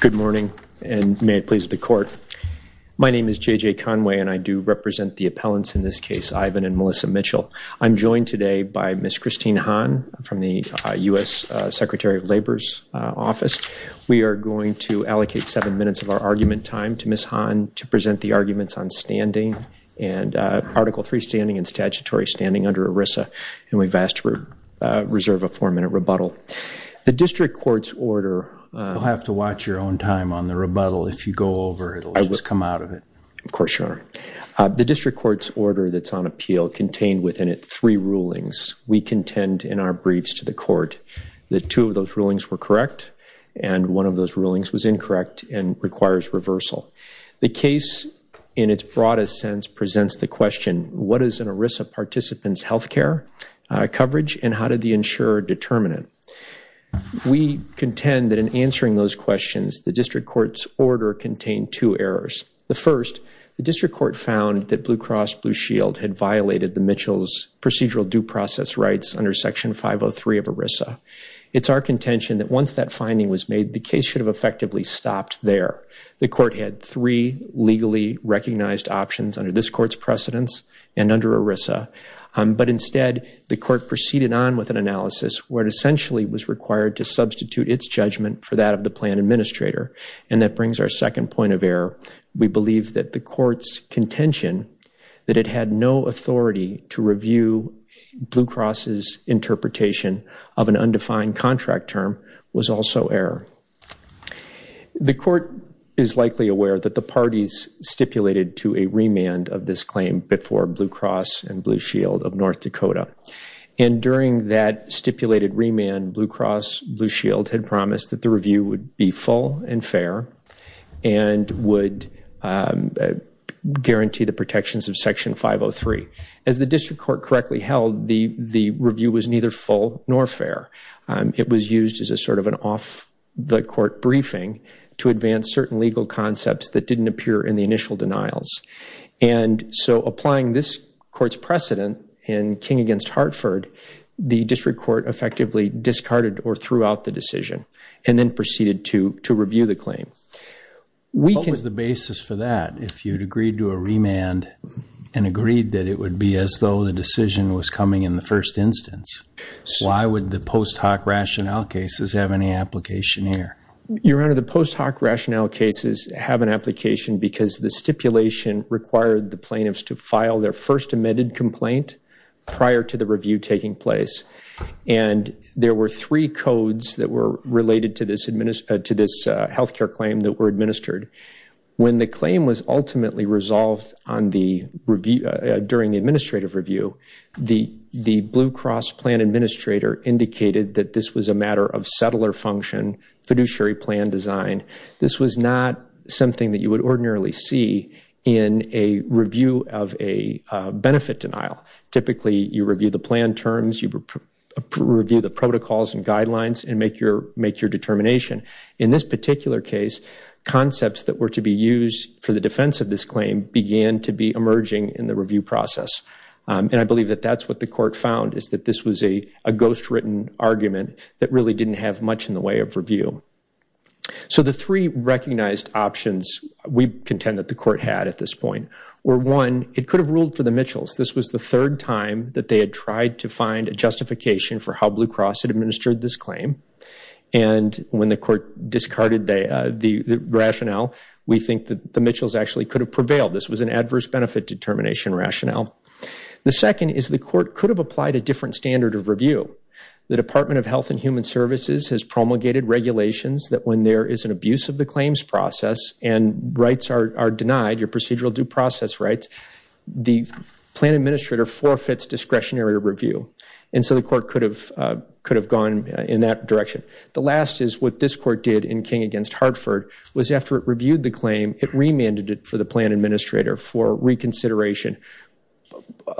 Good morning and may it please the court. My name is J.J. Conway and I do represent the appellants in this case, Ivan and Melissa Mitchell. I'm joined today by Ms. Christine Hahn from the U.S. Secretary of Labor's office. We are going to allocate seven minutes of our argument time to Ms. Hahn to present the arguments on standing and Article 3 standing and statutory standing under ERISA and we've asked to reserve a four-minute rebuttal. The district court's order... You'll have to watch your own time on the rebuttal if you go over it or it'll just come out of it. Of course, Your Honor. The district court's order that's on appeal contained within it three rulings. We contend in our briefs to the court that two of those rulings were correct and one of those rulings was incorrect and requires reversal. The case, in its broadest sense, presents the question, what is an ERISA participant's health care coverage and how did the insurer determine it? We contend that in answering those questions, the district court's order contained two errors. The first, the district court found that Blue Cross Blue Shield had violated the Mitchell's procedural due process rights under Section 503 of ERISA. It's our contention that once that finding was made, the case should have effectively stopped there. The court had three legally recognized options under this court's precedence and under ERISA, but instead, the court proceeded on with an analysis where it essentially was required to substitute its judgment for that of the plan administrator and that brings our second point of error. We believe that the court's contention that it had no authority to review Blue Cross's interpretation of an undefined contract term was also error. The court is likely aware that the parties stipulated to a remand of this claim before Blue Cross and Blue Shield of North Dakota and during that stipulated remand, Blue Cross Blue Shield had promised that the review would be full and fair and would guarantee the protections of Section 503. As the district court correctly held, the review was neither full nor fair. It was used as a sort of an off-the-court briefing to advance certain legal concepts that didn't appear in the initial denials and so applying this court's precedent in King against Hartford, the district court effectively discarded or threw out the decision and then proceeded to review the claim. What was the basis for that if you had agreed to a remand and agreed that it would be as though the decision was coming in the first instance? Why would the post hoc rationale cases have any application here? Your Honor, the post hoc rationale cases have an application because the stipulation required the plaintiffs to file their first amended complaint prior to the review taking place and there were three codes that were related to this health care claim that were ultimately resolved during the administrative review. The Blue Cross plan administrator indicated that this was a matter of settler function, fiduciary plan design. This was not something that you would ordinarily see in a review of a benefit denial. Typically, you review the plan terms, you review the protocols and guidelines and make your determination. In this particular case, concepts that were to be used for the defense of this claim began to be emerging in the review process and I believe that that's what the court found is that this was a ghost written argument that really didn't have much in the way of review. So the three recognized options we contend that the court had at this point were one, it could have ruled for the Mitchells. This was the third time that they had tried to the court discarded the rationale. We think that the Mitchells actually could have prevailed. This was an adverse benefit determination rationale. The second is the court could have applied a different standard of review. The Department of Health and Human Services has promulgated regulations that when there is an abuse of the claims process and rights are denied, your procedural due process rights, the plan administrator forfeits discretionary review. And so the court could have could have gone in that direction. The last is what this court did in King against Hartford was after it reviewed the claim, it remanded it for the plan administrator for reconsideration,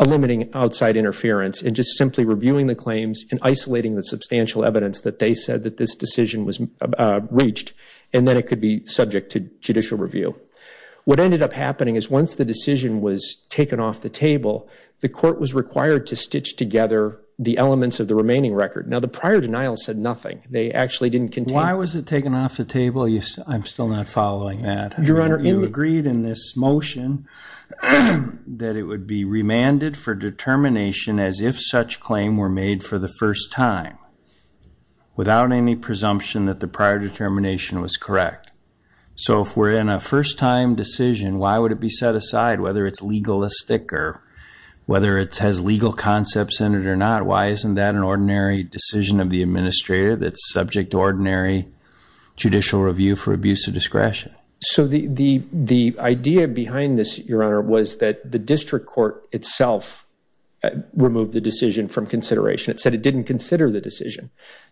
eliminating outside interference and just simply reviewing the claims and isolating the substantial evidence that they said that this decision was reached, and then it could be subject to judicial review. What ended up happening is once the decision was put together, the elements of the remaining record. Now, the prior denial said nothing. They actually didn't continue. Why was it taken off the table? I'm still not following that. Your Honor, you agreed in this motion that it would be remanded for determination as if such claim were made for the first time without any presumption that the prior determination was correct. So if we're in a first-time decision, why would it be set aside, whether it's legalistic or whether it has legal concepts in it or not? Why isn't that an ordinary decision of the administrator that's subject to ordinary judicial review for abuse of discretion? So the idea behind this, Your Honor, was that the district court itself removed the decision from consideration. It said it didn't consider the decision.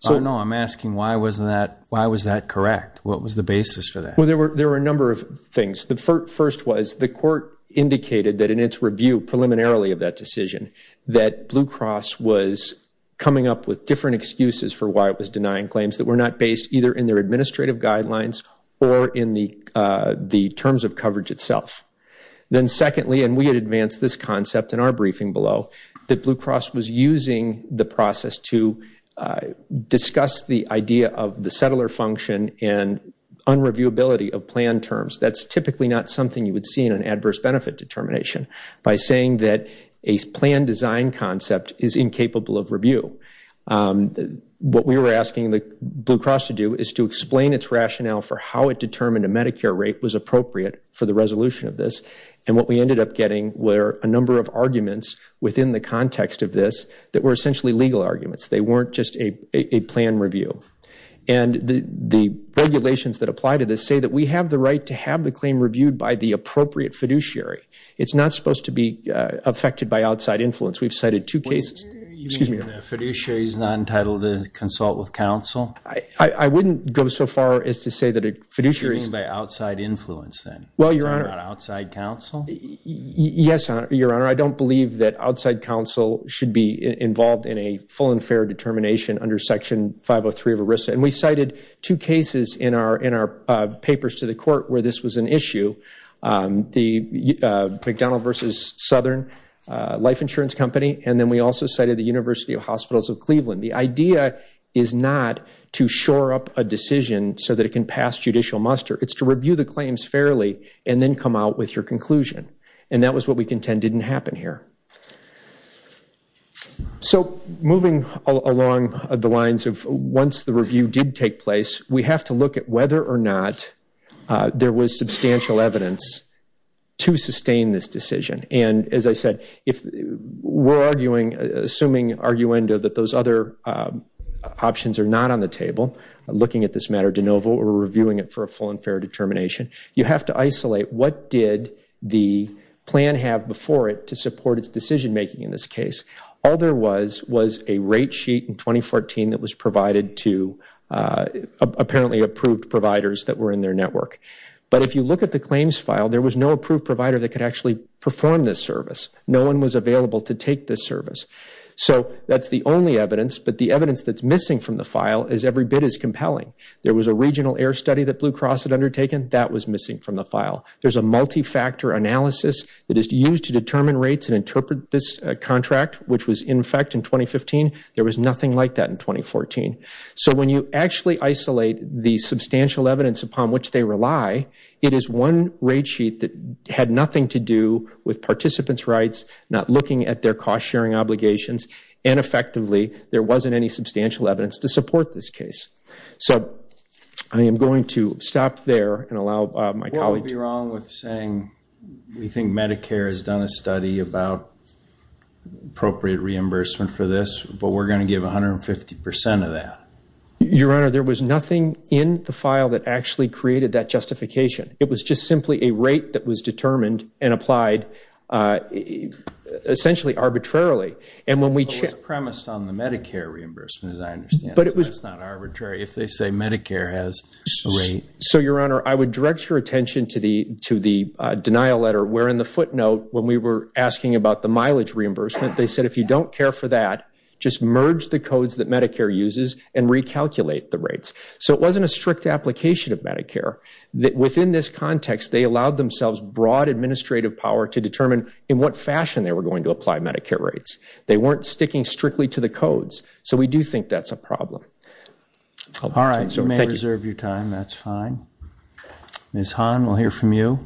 No, I'm asking why was that correct? What was the basis for that? Well, there were a number of things. The first was the court indicated that in its review preliminarily of that decision, that Blue Cross was coming up with different excuses for why it was denying claims that were not based either in their administrative guidelines or in the terms of coverage itself. Then secondly, and we had advanced this concept in our briefing below, that Blue Cross was using the process to discuss the idea of the settler function and unreviewability of plan terms. That's typically not something you would see in an application saying that a plan design concept is incapable of review. What we were asking Blue Cross to do is to explain its rationale for how it determined a Medicare rate was appropriate for the resolution of this, and what we ended up getting were a number of arguments within the context of this that were essentially legal arguments. They weren't just a plan review. And the regulations that apply to this say that we have the right to have the claim reviewed by the appropriate fiduciary. It's not supposed to be affected by outside influence. We've cited two cases... You mean a fiduciary is not entitled to consult with counsel? I wouldn't go so far as to say that a fiduciary... You mean by outside influence then? Well, Your Honor... Outside counsel? Yes, Your Honor. I don't believe that outside counsel should be involved in a full and fair determination under Section 503 of ERISA. And we cited two cases in our papers to the court where this was an issue. The McDonald v. Southern Life Insurance Company, and then we also cited the University of Hospitals of Cleveland. The idea is not to shore up a decision so that it can pass judicial muster. It's to review the claims fairly and then come out with your conclusion. And that was what we contend didn't happen here. So moving along the lines of once the review did take place, we have to look at whether or not there was substantial evidence to sustain this decision. And as I said, if we're arguing, assuming arguendo that those other options are not on the table, looking at this matter de novo or reviewing it for a full and fair determination, you have to isolate what did the plan have before it to support its decision making in this case. All there was was a rate sheet in 2014 that was provided to apparently approved providers that were in their network. But if you look at the claims file, there was no approved provider that could actually perform this service. No one was available to take this service. So that's the only evidence. But the evidence that's missing from the file is every bit as compelling. There was a regional error study that Blue Cross had undertaken. That was missing from the file. There's a multi-factor analysis that is used to determine rates and interpret this contract, which was in effect in 2015. There was nothing like that in 2014. So when you actually isolate the substantial evidence upon which they rely, it is one rate sheet that had nothing to do with participants' rights, not looking at their cost-sharing obligations, and effectively, there wasn't any substantial evidence to support this case. So I am going to stop there and allow my colleague to... We think Medicare has done a study about appropriate reimbursement for this, but we're going to give 150% of that. Your Honor, there was nothing in the file that actually created that justification. It was just simply a rate that was determined and applied essentially arbitrarily. And when we... It was premised on the Medicare reimbursement, as I understand. That's not arbitrary. If they say Medicare has a rate... So, Your Honor, I would direct your attention to the denial letter, where in the footnote, when we were asking about the mileage reimbursement, they said, if you don't care for that, just merge the codes that Medicare uses and recalculate the rates. So it wasn't a strict application of Medicare. Within this context, they allowed themselves broad administrative power to determine in what fashion they were going to apply Medicare rates. They weren't sticking strictly to the codes. So we do think that's a problem. All right. So we may reserve your time. That's fine. Ms. Han, we'll hear from you.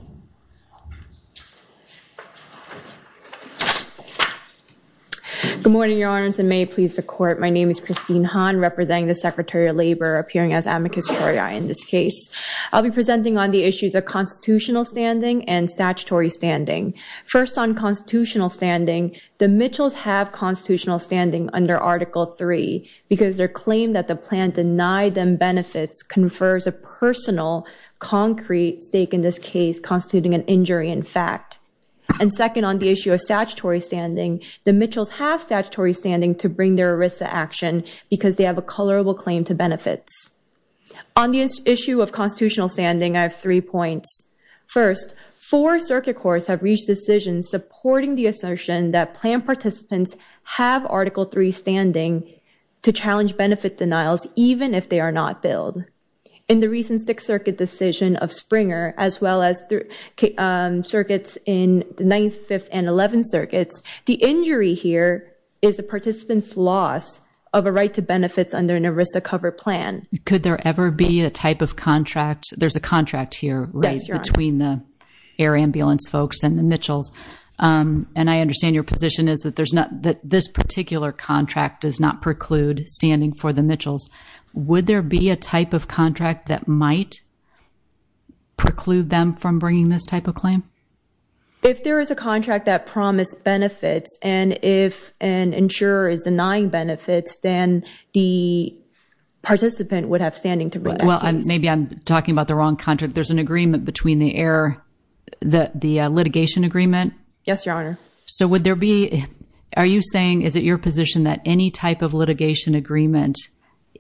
Good morning, Your Honors, and may it please the Court. My name is Christine Han, representing the Secretary of Labor, appearing as amicus coriae in this case. I'll be presenting on the issues of constitutional standing and statutory standing. First, on constitutional standing, the Mitchells have constitutional standing under Article III because their claim that the plan denied them benefits confers a personal concrete stake in this case, constituting an injury in fact. And second, on the issue of statutory standing, the Mitchells have statutory standing to bring their ERISA action because they have a colorable claim to benefits. On the issue of constitutional standing, I have three points. First, four circuit courts have reached decisions supporting the assertion that plan participants have Article III standing to challenge benefit denials even if they are not billed. In the recent Sixth Circuit decision of Springer, as well as circuits in the Ninth, Fifth, and Eleventh Circuits, the injury here is a participant's loss of a right to benefits under an ERISA cover plan. Could there ever be a type of contract? There's a contract here raised between the air ambulance folks and the Mitchells. And I understand your position is that this particular contract does not preclude standing for the Mitchells. Would there be a type of contract that might preclude them from bringing this type of claim? If there is a contract that promised benefits and if an insurer is denying benefits, then the participant would have standing to bring that case. Well, maybe I'm talking about the wrong contract. There's an agreement between the air, the litigation agreement. Yes, Your Honor. So would there be, are you saying, is it your position that any type of litigation agreement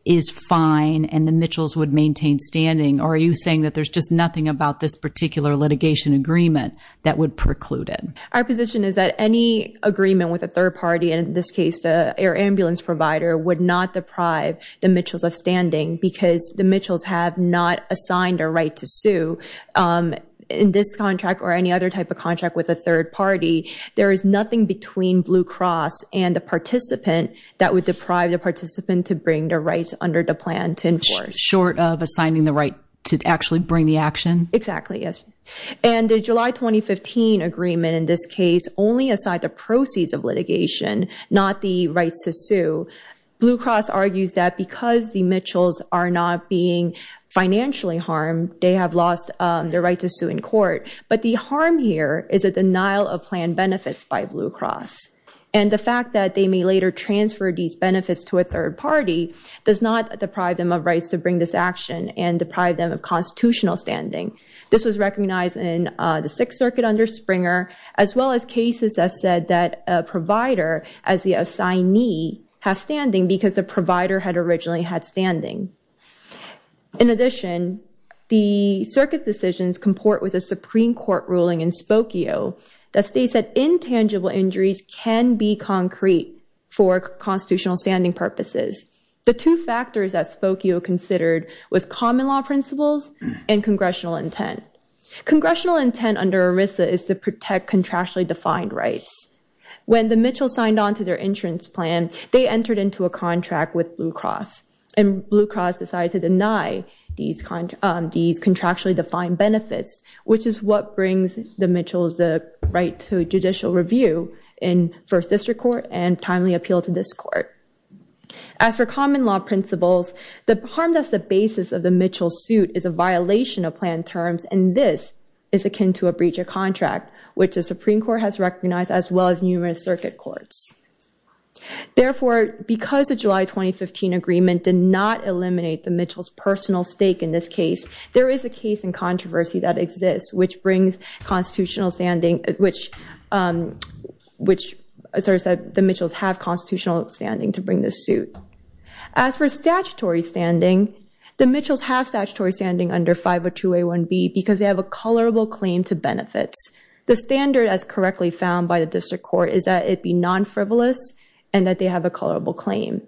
is fine and the Mitchells would maintain standing? Or are you saying that there's just nothing about this particular litigation agreement that would preclude it? Our position is that any agreement with a third party, and in this case, the air ambulance provider, would not deprive the Mitchells of standing because the Mitchells have not assigned a right to sue. In this contract or any other type of contract with a third party, there is nothing between Blue Cross and the participant that would deprive the participant to bring the rights under the plan to enforce. Short of assigning the right to actually bring the action? Exactly. Yes. And the July 2015 agreement in this case only assigned the proceeds of litigation, not the rights to sue. Blue Cross argues that because the Mitchells are not being financially harmed, they have lost their right to sue in court. But the harm here is a denial of plan benefits by Blue Cross. And the fact that they may later transfer these benefits to a third party does not deprive them of rights to bring this action and deprive them of constitutional standing. This was recognized in the Sixth Circuit under Springer, as well as cases that said that a provider, as the assignee, has standing because the provider had originally had standing. In addition, the circuit decisions comport with a Supreme Court ruling in Spokio that states that intangible injuries can be concrete for constitutional standing purposes. The two factors that Spokio considered was common law principles and congressional intent. Congressional intent under ERISA is to protect contractually defined rights. When the Mitchells signed on to their insurance plan, they entered into a contract with Blue Cross, and Blue Cross decided to deny these contractually defined benefits, which is what brings the right to judicial review in First District Court and timely appeal to this court. As for common law principles, the harm that's the basis of the Mitchells' suit is a violation of plan terms, and this is akin to a breach of contract, which the Supreme Court has recognized, as well as numerous circuit courts. Therefore, because the July 2015 agreement did not eliminate the Mitchells' personal stake in this case, there is a case in controversy that exists, which asserts that the Mitchells have constitutional standing to bring this suit. As for statutory standing, the Mitchells have statutory standing under 502A1B because they have a colorable claim to benefits. The standard, as correctly found by the District Court, is that it be non-frivolous and that they have a colorable claim.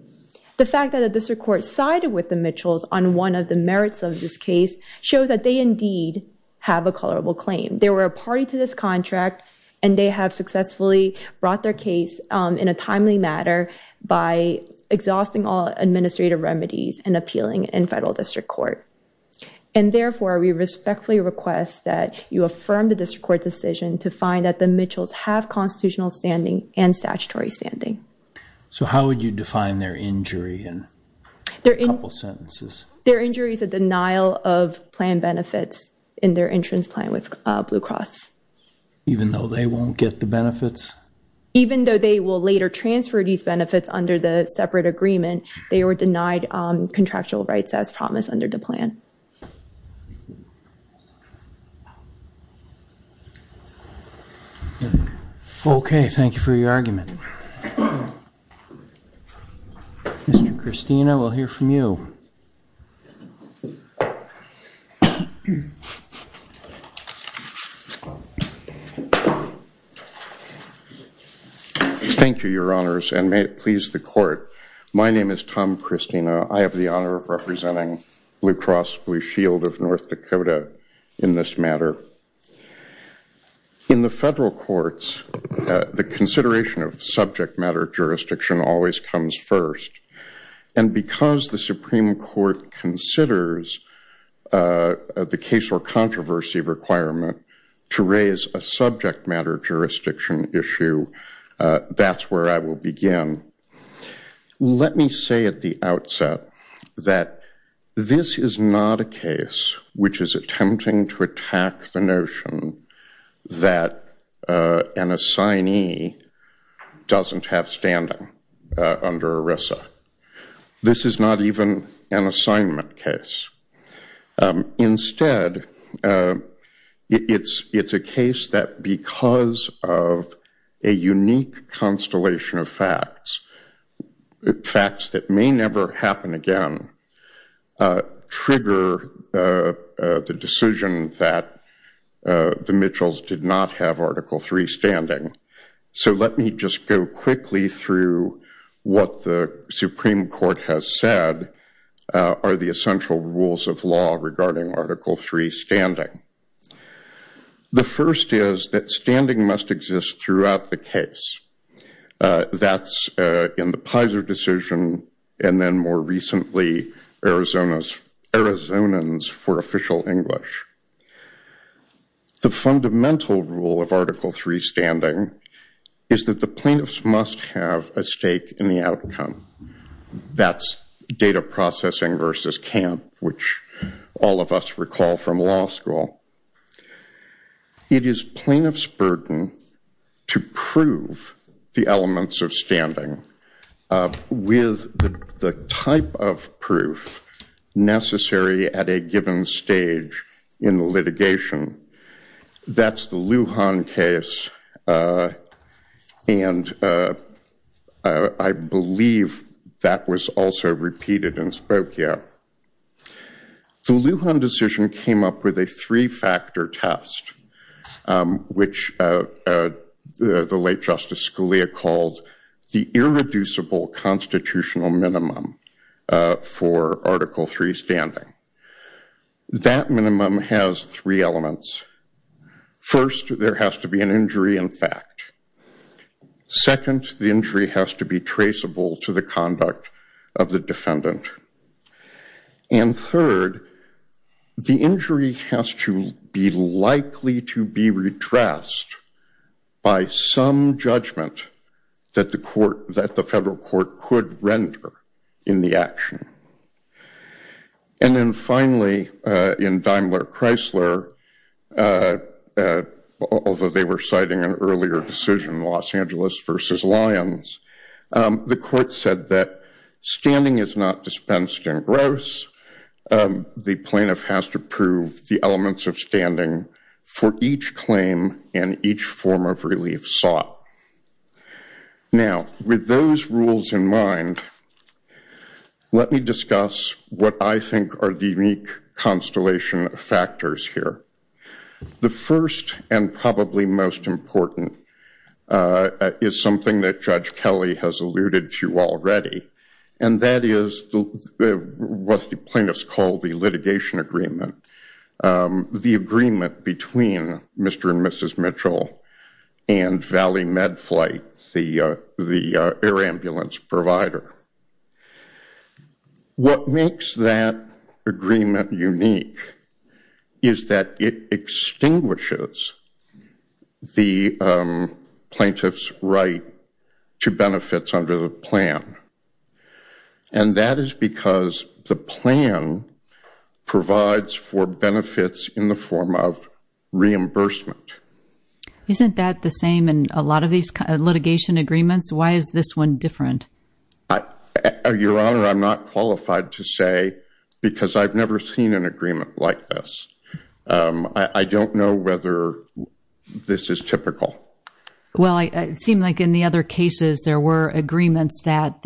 The fact that the District Court sided with the Mitchells on one of the merits of this case shows that they indeed have a colorable claim. They were a party to this contract, and they have successfully brought their case in a timely manner by exhausting all administrative remedies and appealing in Federal District Court. And therefore, we respectfully request that you affirm the District Court decision to find that the Mitchells have constitutional standing and statutory standing. So how would you define their injury in a couple sentences? Their injury is a denial of plan benefits in their entrance plan with Blue Cross. Even though they won't get the benefits? Even though they will later transfer these benefits under the separate agreement, they were denied contractual rights as promised under the plan. Okay, thank you for your argument. Mr. Kristina, we'll hear from you. Thank you, Your Honors, and may it please the Court. My name is Tom Kristina. I have the honor of representing Blue Cross Blue Shield of North Dakota in this matter. In the Federal Courts, the consideration of subject matter jurisdiction always comes first. And because the Supreme Court considers the case or controversy requirement to raise a subject matter jurisdiction issue, that's where I will begin. Let me say at the outset that this is not a case which is attempting to attack the Supreme Court's notion that an assignee doesn't have standing under ERISA. This is not even an assignment case. Instead, it's a case that because of a unique constellation of facts, facts that may never happen again, trigger the decision that the Mitchells did not have Article III standing. So let me just go quickly through what the Supreme Court has said are the essential rules of law regarding Article III standing. The first is that standing must exist throughout the case. That's in the Pizer decision and then more recently Arizona's for official English. The fundamental rule of Article III standing is that the plaintiffs must have a stake in the outcome. That's data processing versus camp, which all of us recall from law school. It is plaintiff's burden to prove the elements of standing with the type of proof necessary at a given stage in the litigation. That's the Lujan case and I believe that was also repeated in Spokane. The Lujan decision came up with a three-factor test, which the late Justice Scalia called the irreducible constitutional minimum for Article III standing. That minimum has three elements. First, there has to be an injury in fact. Second, the injury has to be traceable to the conduct of the defendant. And third, the injury has to be likely to be redressed by some judgment that the federal court could render in the action. And then finally, in Daimler-Chrysler, although they were citing an earlier decision, Los the court said that standing is not dispensed in gross. The plaintiff has to prove the elements of standing for each claim and each form of relief sought. Now with those rules in mind, let me discuss what I think are the unique constellation of factors here. The first and probably most important is something that Judge Kelly has alluded to already, and that is what the plaintiffs call the litigation agreement. The agreement between Mr. and Mrs. Mitchell and Valley Med Flight, the air ambulance provider. What makes that agreement unique is that it extinguishes the plaintiff's right to benefits under the plan. And that is because the plan provides for benefits in the form of reimbursement. Isn't that the same in a lot of these litigation agreements? Why is this one different? Your Honor, I'm not qualified to say because I've never seen an agreement like this. I don't know whether this is typical. Well, it seemed like in the other cases there were agreements that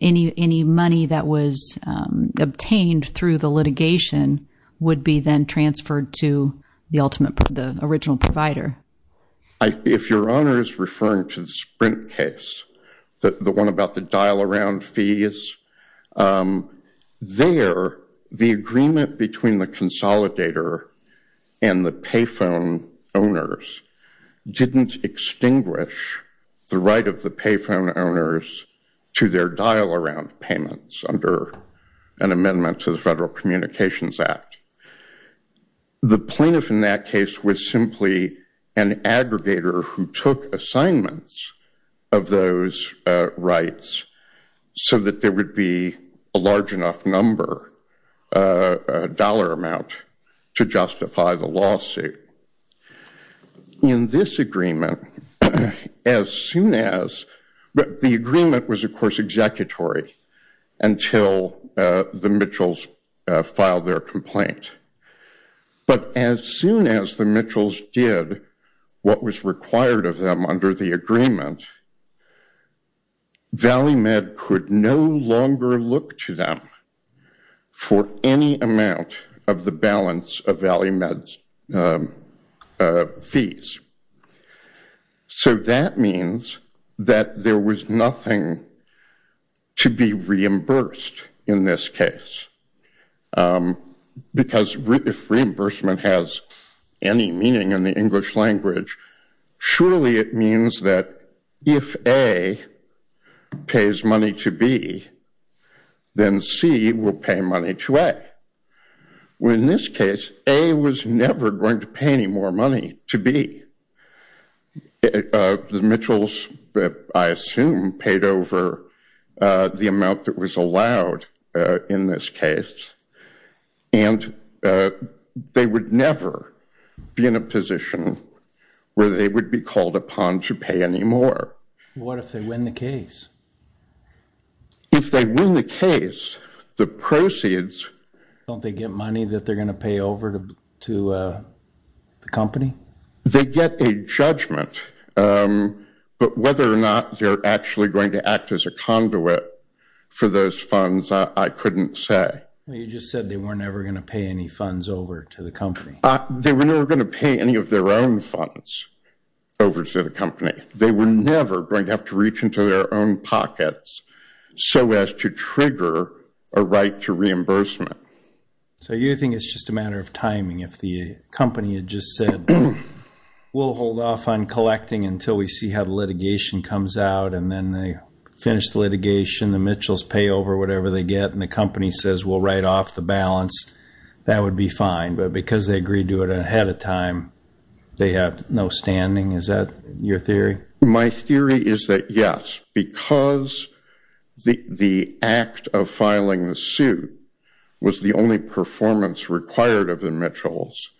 any money that was obtained through the litigation would be then transferred to the original provider. If Your Honor is referring to the Sprint case, the one about the dial around fees, there the agreement between the consolidator and the pay phone owners didn't extinguish the right of the pay phone owners to their dial around payments under an amendment to the Federal Communications Act. The plaintiff in that case was simply an aggregator who took assignments of those rights so that there would be a large enough number of payments a dollar amount to justify the lawsuit. In this agreement, as soon as, the agreement was of course executory until the Mitchells filed their complaint. But as soon as the Mitchells did what was required of them under the agreement, Valley Med could no longer look to them for any amount of the balance of Valley Med's fees. So that means that there was nothing to be reimbursed in this case. Because if reimbursement has any meaning in the English language, surely it means that if A pays money to B, then A pays money to B, then C will pay money to A. Where in this case, A was never going to pay any more money to B. The Mitchells, I assume, paid over the amount that was allowed in this case, and they would never be in a position where they would be called upon to pay any more. What if they win the case? If they win the case, the proceeds... Don't they get money that they're going to pay over to the company? They get a judgment. But whether or not they're actually going to act as a conduit for those funds, I couldn't say. You just said they were never going to pay any funds over to the company. They were never going to pay any of their own funds over to the company. They were never going to have to reach into their own pockets so as to trigger a right to reimbursement. So you think it's just a matter of timing? If the company had just said, we'll hold off on collecting until we see how the litigation comes out, and then they finish the litigation, the Mitchells pay over whatever they get, and the company says we'll write off the balance, that would be fine. But because they agreed to it ahead of time, they have no standing? Is that your theory? My theory is that yes. Because the act of filing the suit was the only performance required of the Mitchells,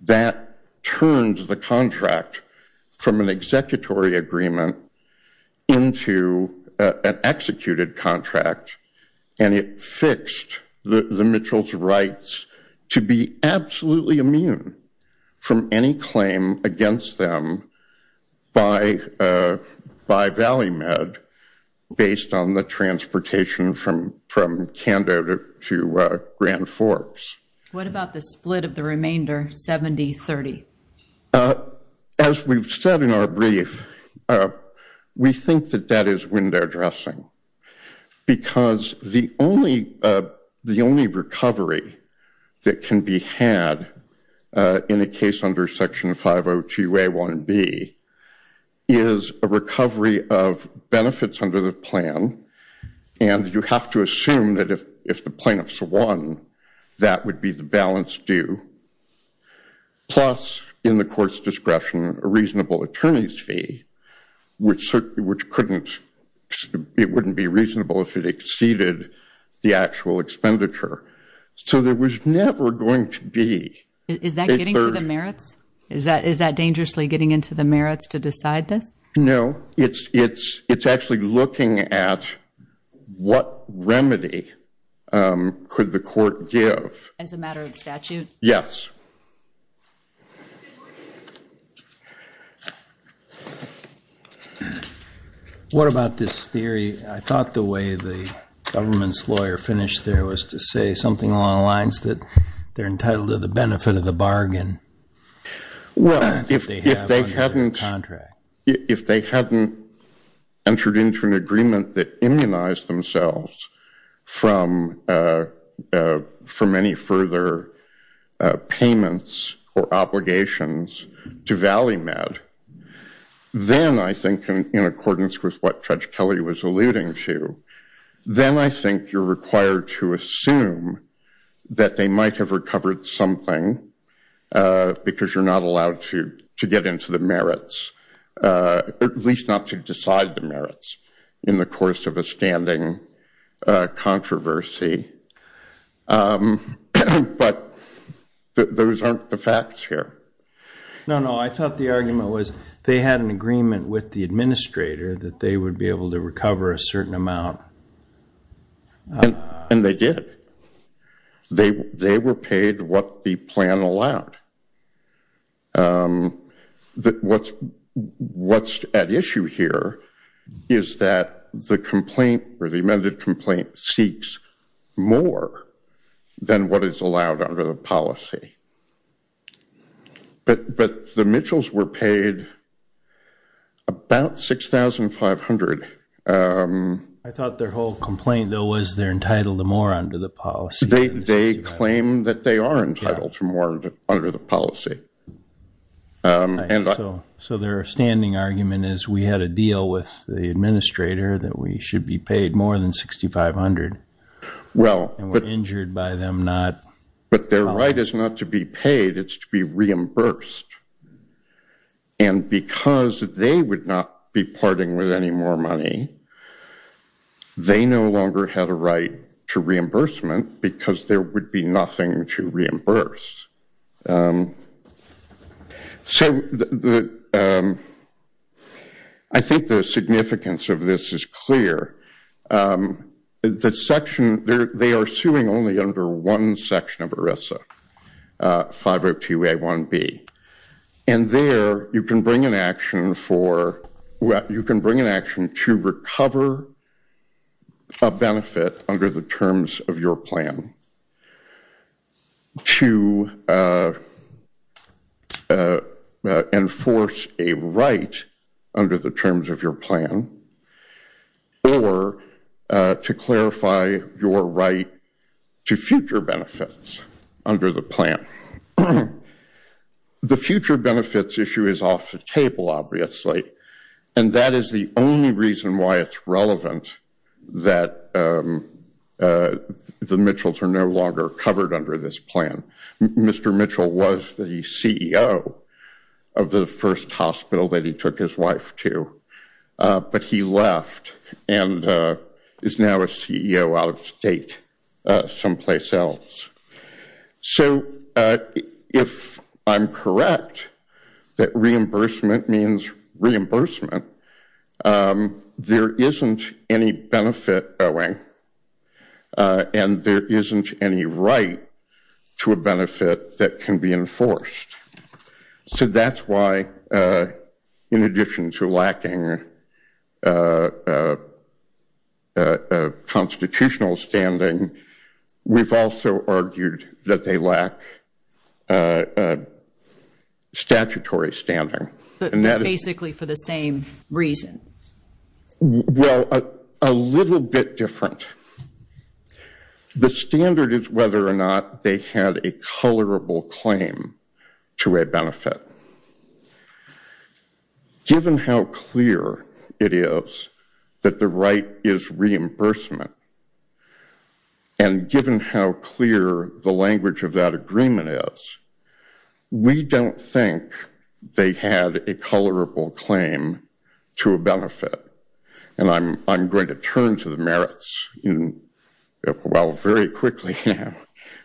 that turned the contract from an executory agreement into an executed contract and it fixed the Mitchells' rights to be absolutely immune from any claim against them by ValleyMed based on the transportation from Canada to Grand Forks. What about the split of the remainder, 70-30? As we've said in our brief, we think that that is window dressing because the only recovery that can be had in a case under Section 502A1B is a recovery of benefits under the plan, and you have to assume that if the plaintiffs won, that would be the balance due. Plus, in the court's discretion, a reasonable attorney's fee, which couldn't, it wouldn't be reasonable if it exceeded the actual expenditure. So there was never going to be a third. Is that getting to the merits? Is that dangerously getting into the merits to decide this? No. It's actually looking at what remedy could the court give. As a matter of statute? Yes. What about this theory? I thought the way the government's lawyer finished there was to say something along the lines that they're entitled to the benefit of the bargain. If they hadn't entered into an agreement that immunized themselves from any further pain payments or obligations to Valley Med, then I think in accordance with what Judge Kelly was alluding to, then I think you're required to assume that they might have recovered something because you're not allowed to get into the merits, at least not to decide the merits in the course of a standing controversy. But those are the two things that I think are true. Those aren't the facts here. No, no. I thought the argument was they had an agreement with the administrator that they would be able to recover a certain amount. And they did. They were paid what the plan allowed. What's at issue here is that the complaint or the amended complaint seeks more than what is allowed under the policy. But the Mitchells were paid about $6,500. I thought their whole complaint though was they're entitled to more under the policy. They claim that they are entitled to more under the policy. So their standing argument is we had a deal with the administrator that we should be paid more than $6,500 and we're injured by them not... But their right is not to be paid, it's to be reimbursed. And because they would not be parting with any more money, they no longer had a right to reimbursement because there would be nothing to reimburse. I think the significance of this is clear. The section, they are suing only under one section of ERISA, 502A1B. And there you can bring an action to recover a benefit under the terms of your plan to enforce a right under the terms of your plan or to clarify your right to future benefit. Under the plan. The future benefits issue is off the table, obviously. And that is the only reason why it's relevant that the Mitchells are no longer covered under this plan. Mr. Mitchell was the CEO of the first hospital that he took his wife to, but he left and is now a CEO out of state someplace else. So if I'm correct, that reimbursement means reimbursement, there isn't any benefit owing and there isn't any right to a benefit that can be enforced. So that's why, in addition to lacking constitutional standing, we've also argued that they lack statutory standing. But basically for the same reasons. Well, a little bit different. The standard is whether or not they had a colorable claim to a benefit. Given how clear it is that the right is reimbursement, and given how clear the language of that agreement is, we don't think they had a colorable claim to a benefit. And I'm going to turn to the merits, well, very quickly now,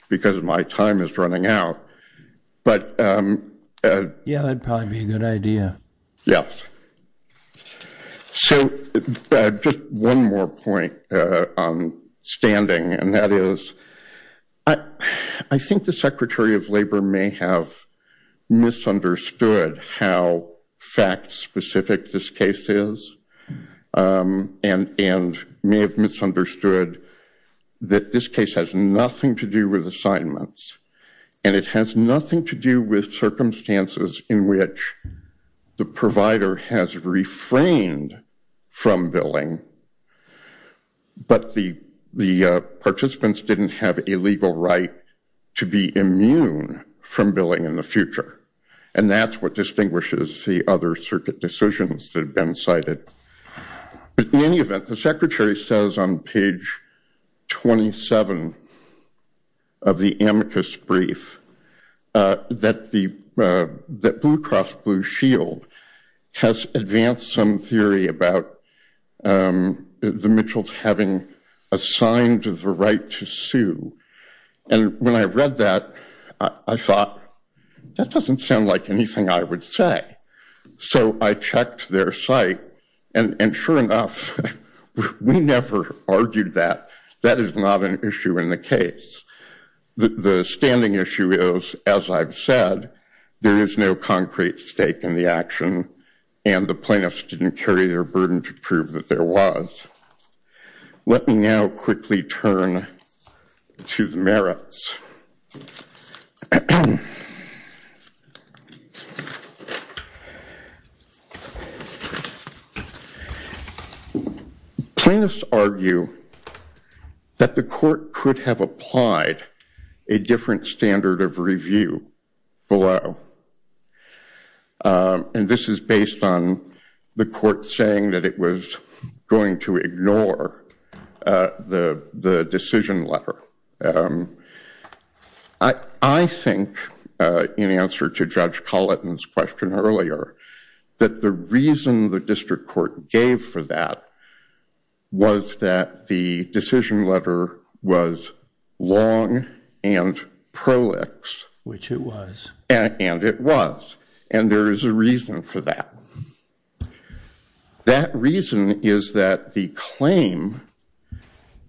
because my time is running out. Yeah, that would probably be a good idea. Yes. So just one more point on standing, and that is, I think the Secretary of Labor may have misunderstood how fact-specific this case is, and may have misunderstood that this case has nothing to do with assignments, and it has nothing to do with circumstances in which the provider has refrained from billing, but the participants didn't have a legal right to be immune from billing in the future. And that's what distinguishes the other circuit decisions that have been cited. But in any event, the Secretary says on page 27 of the amicus brief that Blue Cross Blue Shield has advanced some theory about the Mitchells having assigned the right to sue, and when I read that, I thought, that doesn't sound like anything I would say. So I checked their site, and sure enough, we never argued that. That is not an issue in the case. The standing issue is, as I've said, there is no concrete stake in the action, and the plaintiffs didn't carry their burden to prove that there was. Let me now quickly turn to the merits. Plaintiffs argue that the court could have applied a different standard of review below. And this is based on the court saying that it was going to ignore the decision letter. I think, in answer to Judge Colleton's question earlier, that the reason the district court gave for that was that the decision letter was long and prolix. Which it was. And it was. And there is a reason for that. That reason is that the claim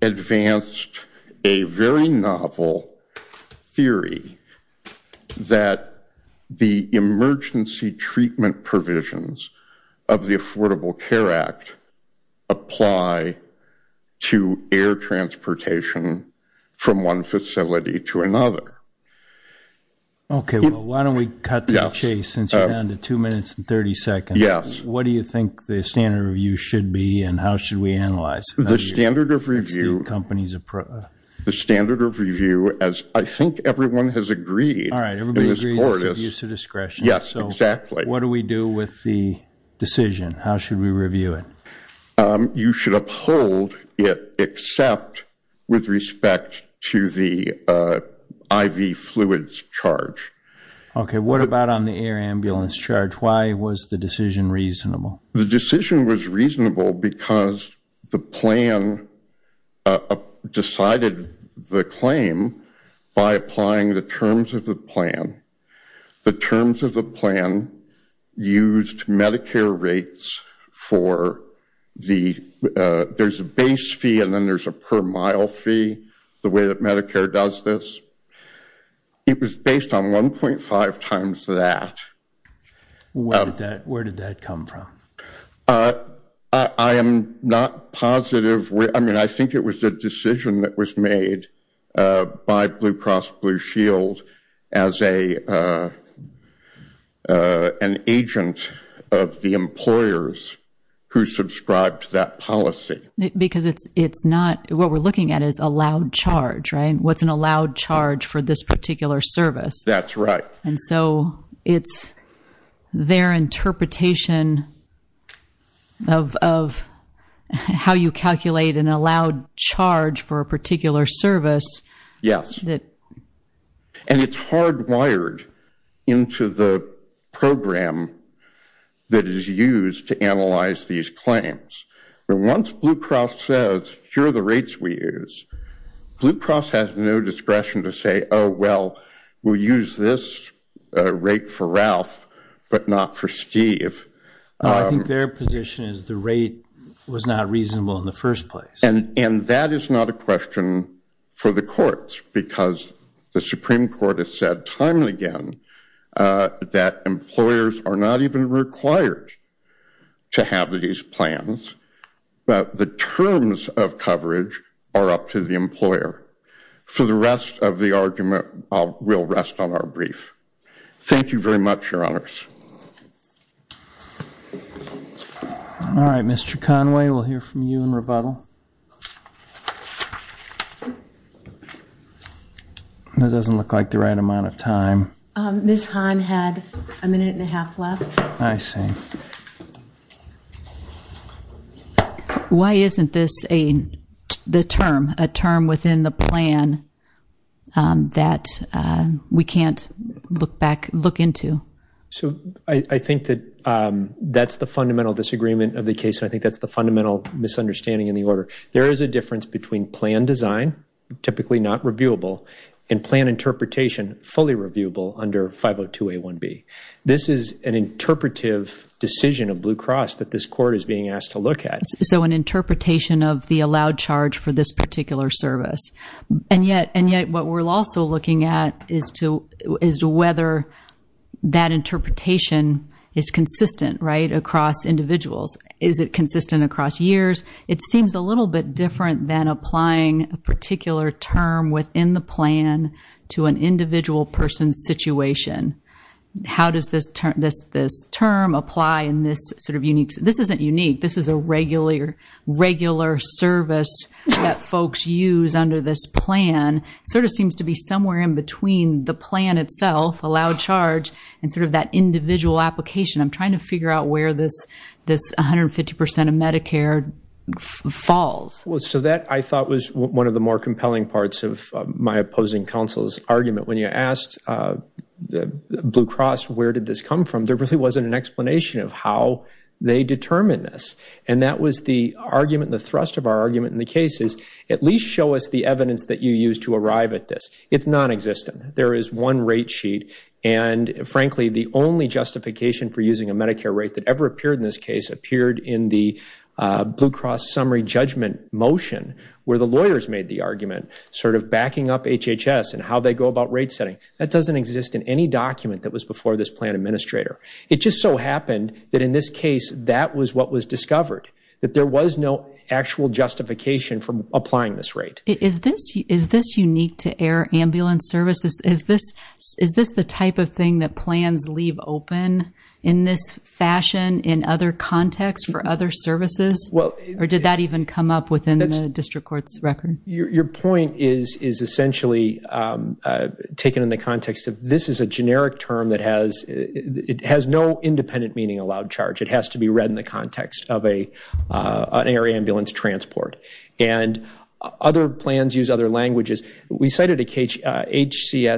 advanced a very novel theory that the emergency treatment provisions of the Affordable Care Act apply to air transportation from one facility to another. Okay. Well, why don't we cut to the chase, since you're down to two minutes and 30 seconds. Yes. What do you think the standard of review should be, and how should we analyze it? The standard of review, as I think everyone has agreed, in this court, is use of discretion. Yes, exactly. So what do we do with the decision? How should we review it? You should uphold it, except with respect to the IV fluids charge. Okay. What about on the air ambulance charge? Why was the decision reasonable? The decision was reasonable because the plan decided the claim by applying the terms of the plan. The terms of the plan used Medicare rates for the, there's a base fee and then there's a per mile fee, the way that Medicare does this. It was based on 1.5 times that. Where did that come from? I am not positive. I think it was a decision that was made by Blue Cross Blue Shield as an agent of the employers who subscribed to that policy. Because it's not, what we're looking at is allowed charge, right? What's an allowed charge for this particular service? That's right. And so it's their interpretation of how you calculate an allowed charge for a particular service. Yes. And it's hardwired into the program that is used to analyze these claims. But once Blue Cross says, here are the rates we use, Blue Cross has no discretion to say, oh, well, we'll use this rate for Ralph, but not for Steve. No, I think their position is the rate was not reasonable in the first place. And that is not a question for the courts, because the Supreme Court has said time and again that employers are not even required to have these plans. But the terms of coverage are up to the employer. For the rest of the argument, we'll rest on our brief. Thank you very much, Your Honors. All right, Mr. Conway, we'll hear from you in rebuttal. That doesn't look like the right amount of time. Ms. Hahn had a minute and a half left. I see. Why isn't this the term, a term within the plan that we can't look back, look into? So I think that that's the fundamental disagreement of the case. I think that's the fundamental misunderstanding in the order. There is a difference between plan design, typically not reviewable, and plan interpretation, fully reviewable under 502A1B. This is an interpretive decision of Blue Cross that this court is being asked to look at. So an interpretation of the allowed charge for this particular service. And yet what we're also looking at is whether that interpretation is consistent, right, across individuals. Is it consistent across years? It seems a little bit different than applying a particular term within the plan to an individual person's situation. How does this term apply in this sort of unique, this isn't unique, this is a regular service that folks use under this plan. It sort of seems to be somewhere in between the plan itself, allowed charge, and sort of that individual application. I'm trying to figure out where this 150% of Medicare falls. So that I thought was one of the more compelling parts of my opposing counsel's argument. When you asked Blue Cross where did this come from, there really wasn't an explanation of how they determined this. And that was the argument, the thrust of our argument in the case is at least show us the evidence that you used to arrive at this. It's nonexistent. There is one rate sheet, and frankly the only justification for using a Medicare rate that ever appeared in this case appeared in the Blue Cross summary judgment motion where the lawyers made the argument, sort of backing up HHS and how they go about rate setting. That doesn't exist in any document that was before this plan administrator. It just so happened that in this case that was what was discovered, that there was no actual justification for applying this rate. Is this unique to air ambulance services? Is this the type of thing that plans leave open in this fashion in other contexts for other services? Or did that even come up within the district court's record? Your point is essentially taken in the context of this is a generic term that has no independent meaning allowed charge. It has to be read in the context of an air ambulance transport. And other plans use other languages. We cited HCA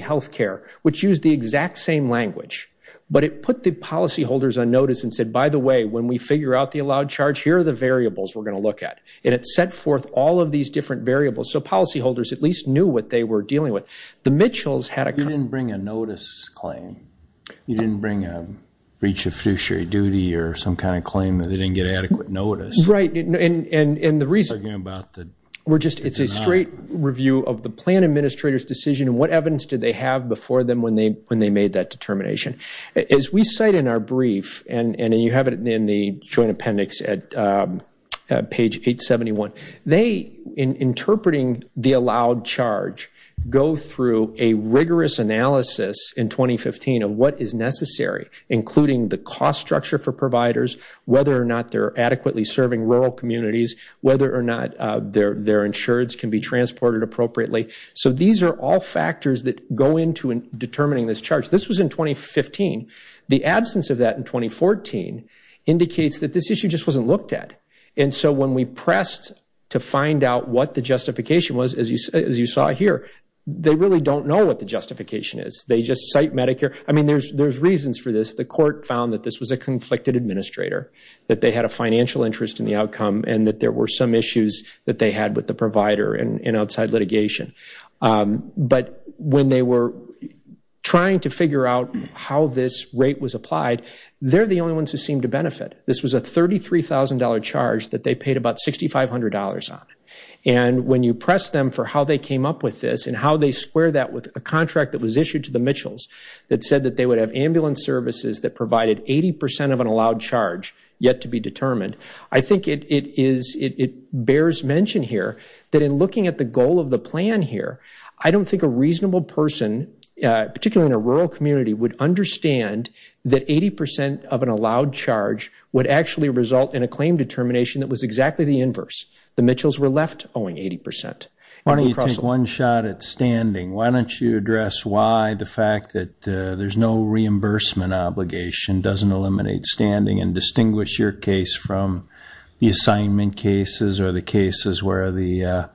Healthcare, which used the exact same language, but it put the policyholders on notice and said, by the way, when we figure out the allowed charge, here are the variables we're going to look at. And it set forth all of these different variables, so policyholders at least knew what they were dealing with. The Mitchells had a kind of – You didn't bring a notice claim. You didn't bring a breach of fiduciary duty or some kind of claim that they didn't get adequate notice. Right. And the reason – We're talking about the – We're just – it's a straight review of the plan administrator's decision and what evidence did they have before them when they made that determination. As we cite in our brief, and you have it in the Joint Appendix at page 871, they, in interpreting the allowed charge, go through a rigorous analysis in 2015 of what is necessary, including the cost structure for providers, whether or not they're adequately serving rural communities, whether or not their insurance can be transported appropriately. So these are all factors that go into determining this charge. This was in 2015. The absence of that in 2014 indicates that this issue just wasn't looked at. And so when we pressed to find out what the justification was, as you saw here, they really don't know what the justification is. They just cite Medicare. I mean, there's reasons for this. The court found that this was a conflicted administrator, that they had a financial interest in the outcome, and that there were some issues that they had with the provider in outside litigation. But when they were trying to figure out how this rate was applied, they're the only ones who seemed to benefit. This was a $33,000 charge that they paid about $6,500 on. And when you press them for how they came up with this and how they square that with a contract that was issued to the Mitchells that said that they would have ambulance services that provided 80% of an allowed charge yet to be determined, I think it bears mention here that in looking at the goal of the plan here, I don't think a reasonable person, particularly in a rural community, would understand that 80% of an allowed charge would actually result in a claim determination that was exactly the inverse. The Mitchells were left owing 80%. Why don't you take one shot at standing? Why don't you address why the fact that there's no reimbursement obligation doesn't eliminate standing and distinguish your case from the assignment cases or the cases where the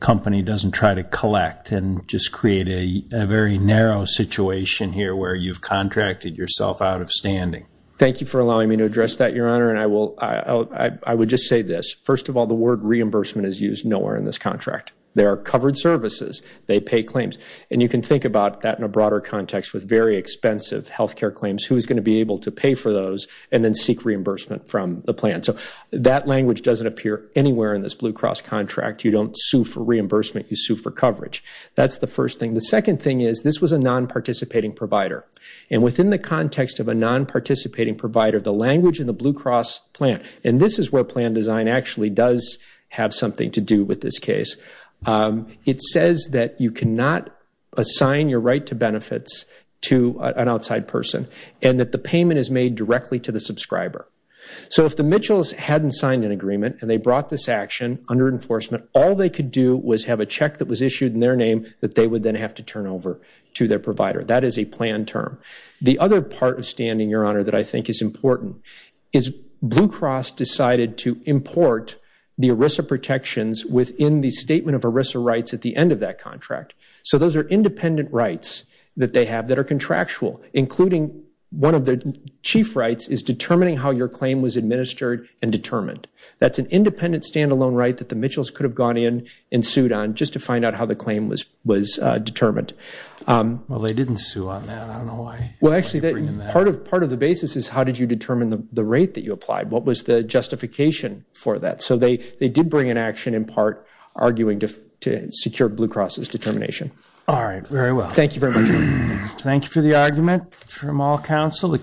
company doesn't try to collect and just create a very narrow situation here where you've contracted yourself out of standing? Thank you for allowing me to address that, Your Honor. And I would just say this. First of all, the word reimbursement is used nowhere in this contract. There are covered services. They pay claims. And you can think about that in a broader context with very expensive health care claims. Who is going to be able to pay for those and then seek reimbursement from the plan? So that language doesn't appear anywhere in this Blue Cross contract. You don't sue for reimbursement. You sue for coverage. That's the first thing. The second thing is this was a non-participating provider. And within the context of a non-participating provider, the language in the Blue Cross plan, and this is where plan design actually does have something to do with this case, it says that you cannot assign your right to benefits to an outside person and that the payment is made directly to the subscriber. So if the Mitchells hadn't signed an agreement and they brought this action under enforcement, all they could do was have a check that was issued in their name that they would then have to turn over to their provider. That is a plan term. The other part of standing, Your Honor, that I think is important is Blue Cross decided to import the ERISA protections within the statement of ERISA rights at the end of that contract. So those are independent rights that they have that are contractual, including one of the chief rights is determining how your claim was administered and determined. That's an independent standalone right that the Mitchells could have gone in and sued on just to find out how the claim was determined. Well, they didn't sue on that. Part of the basis is how did you determine the rate that you applied? What was the justification for that? So they did bring an action in part arguing to secure Blue Cross's determination. All right, very well. Thank you very much. Thank you for the argument from all counsel.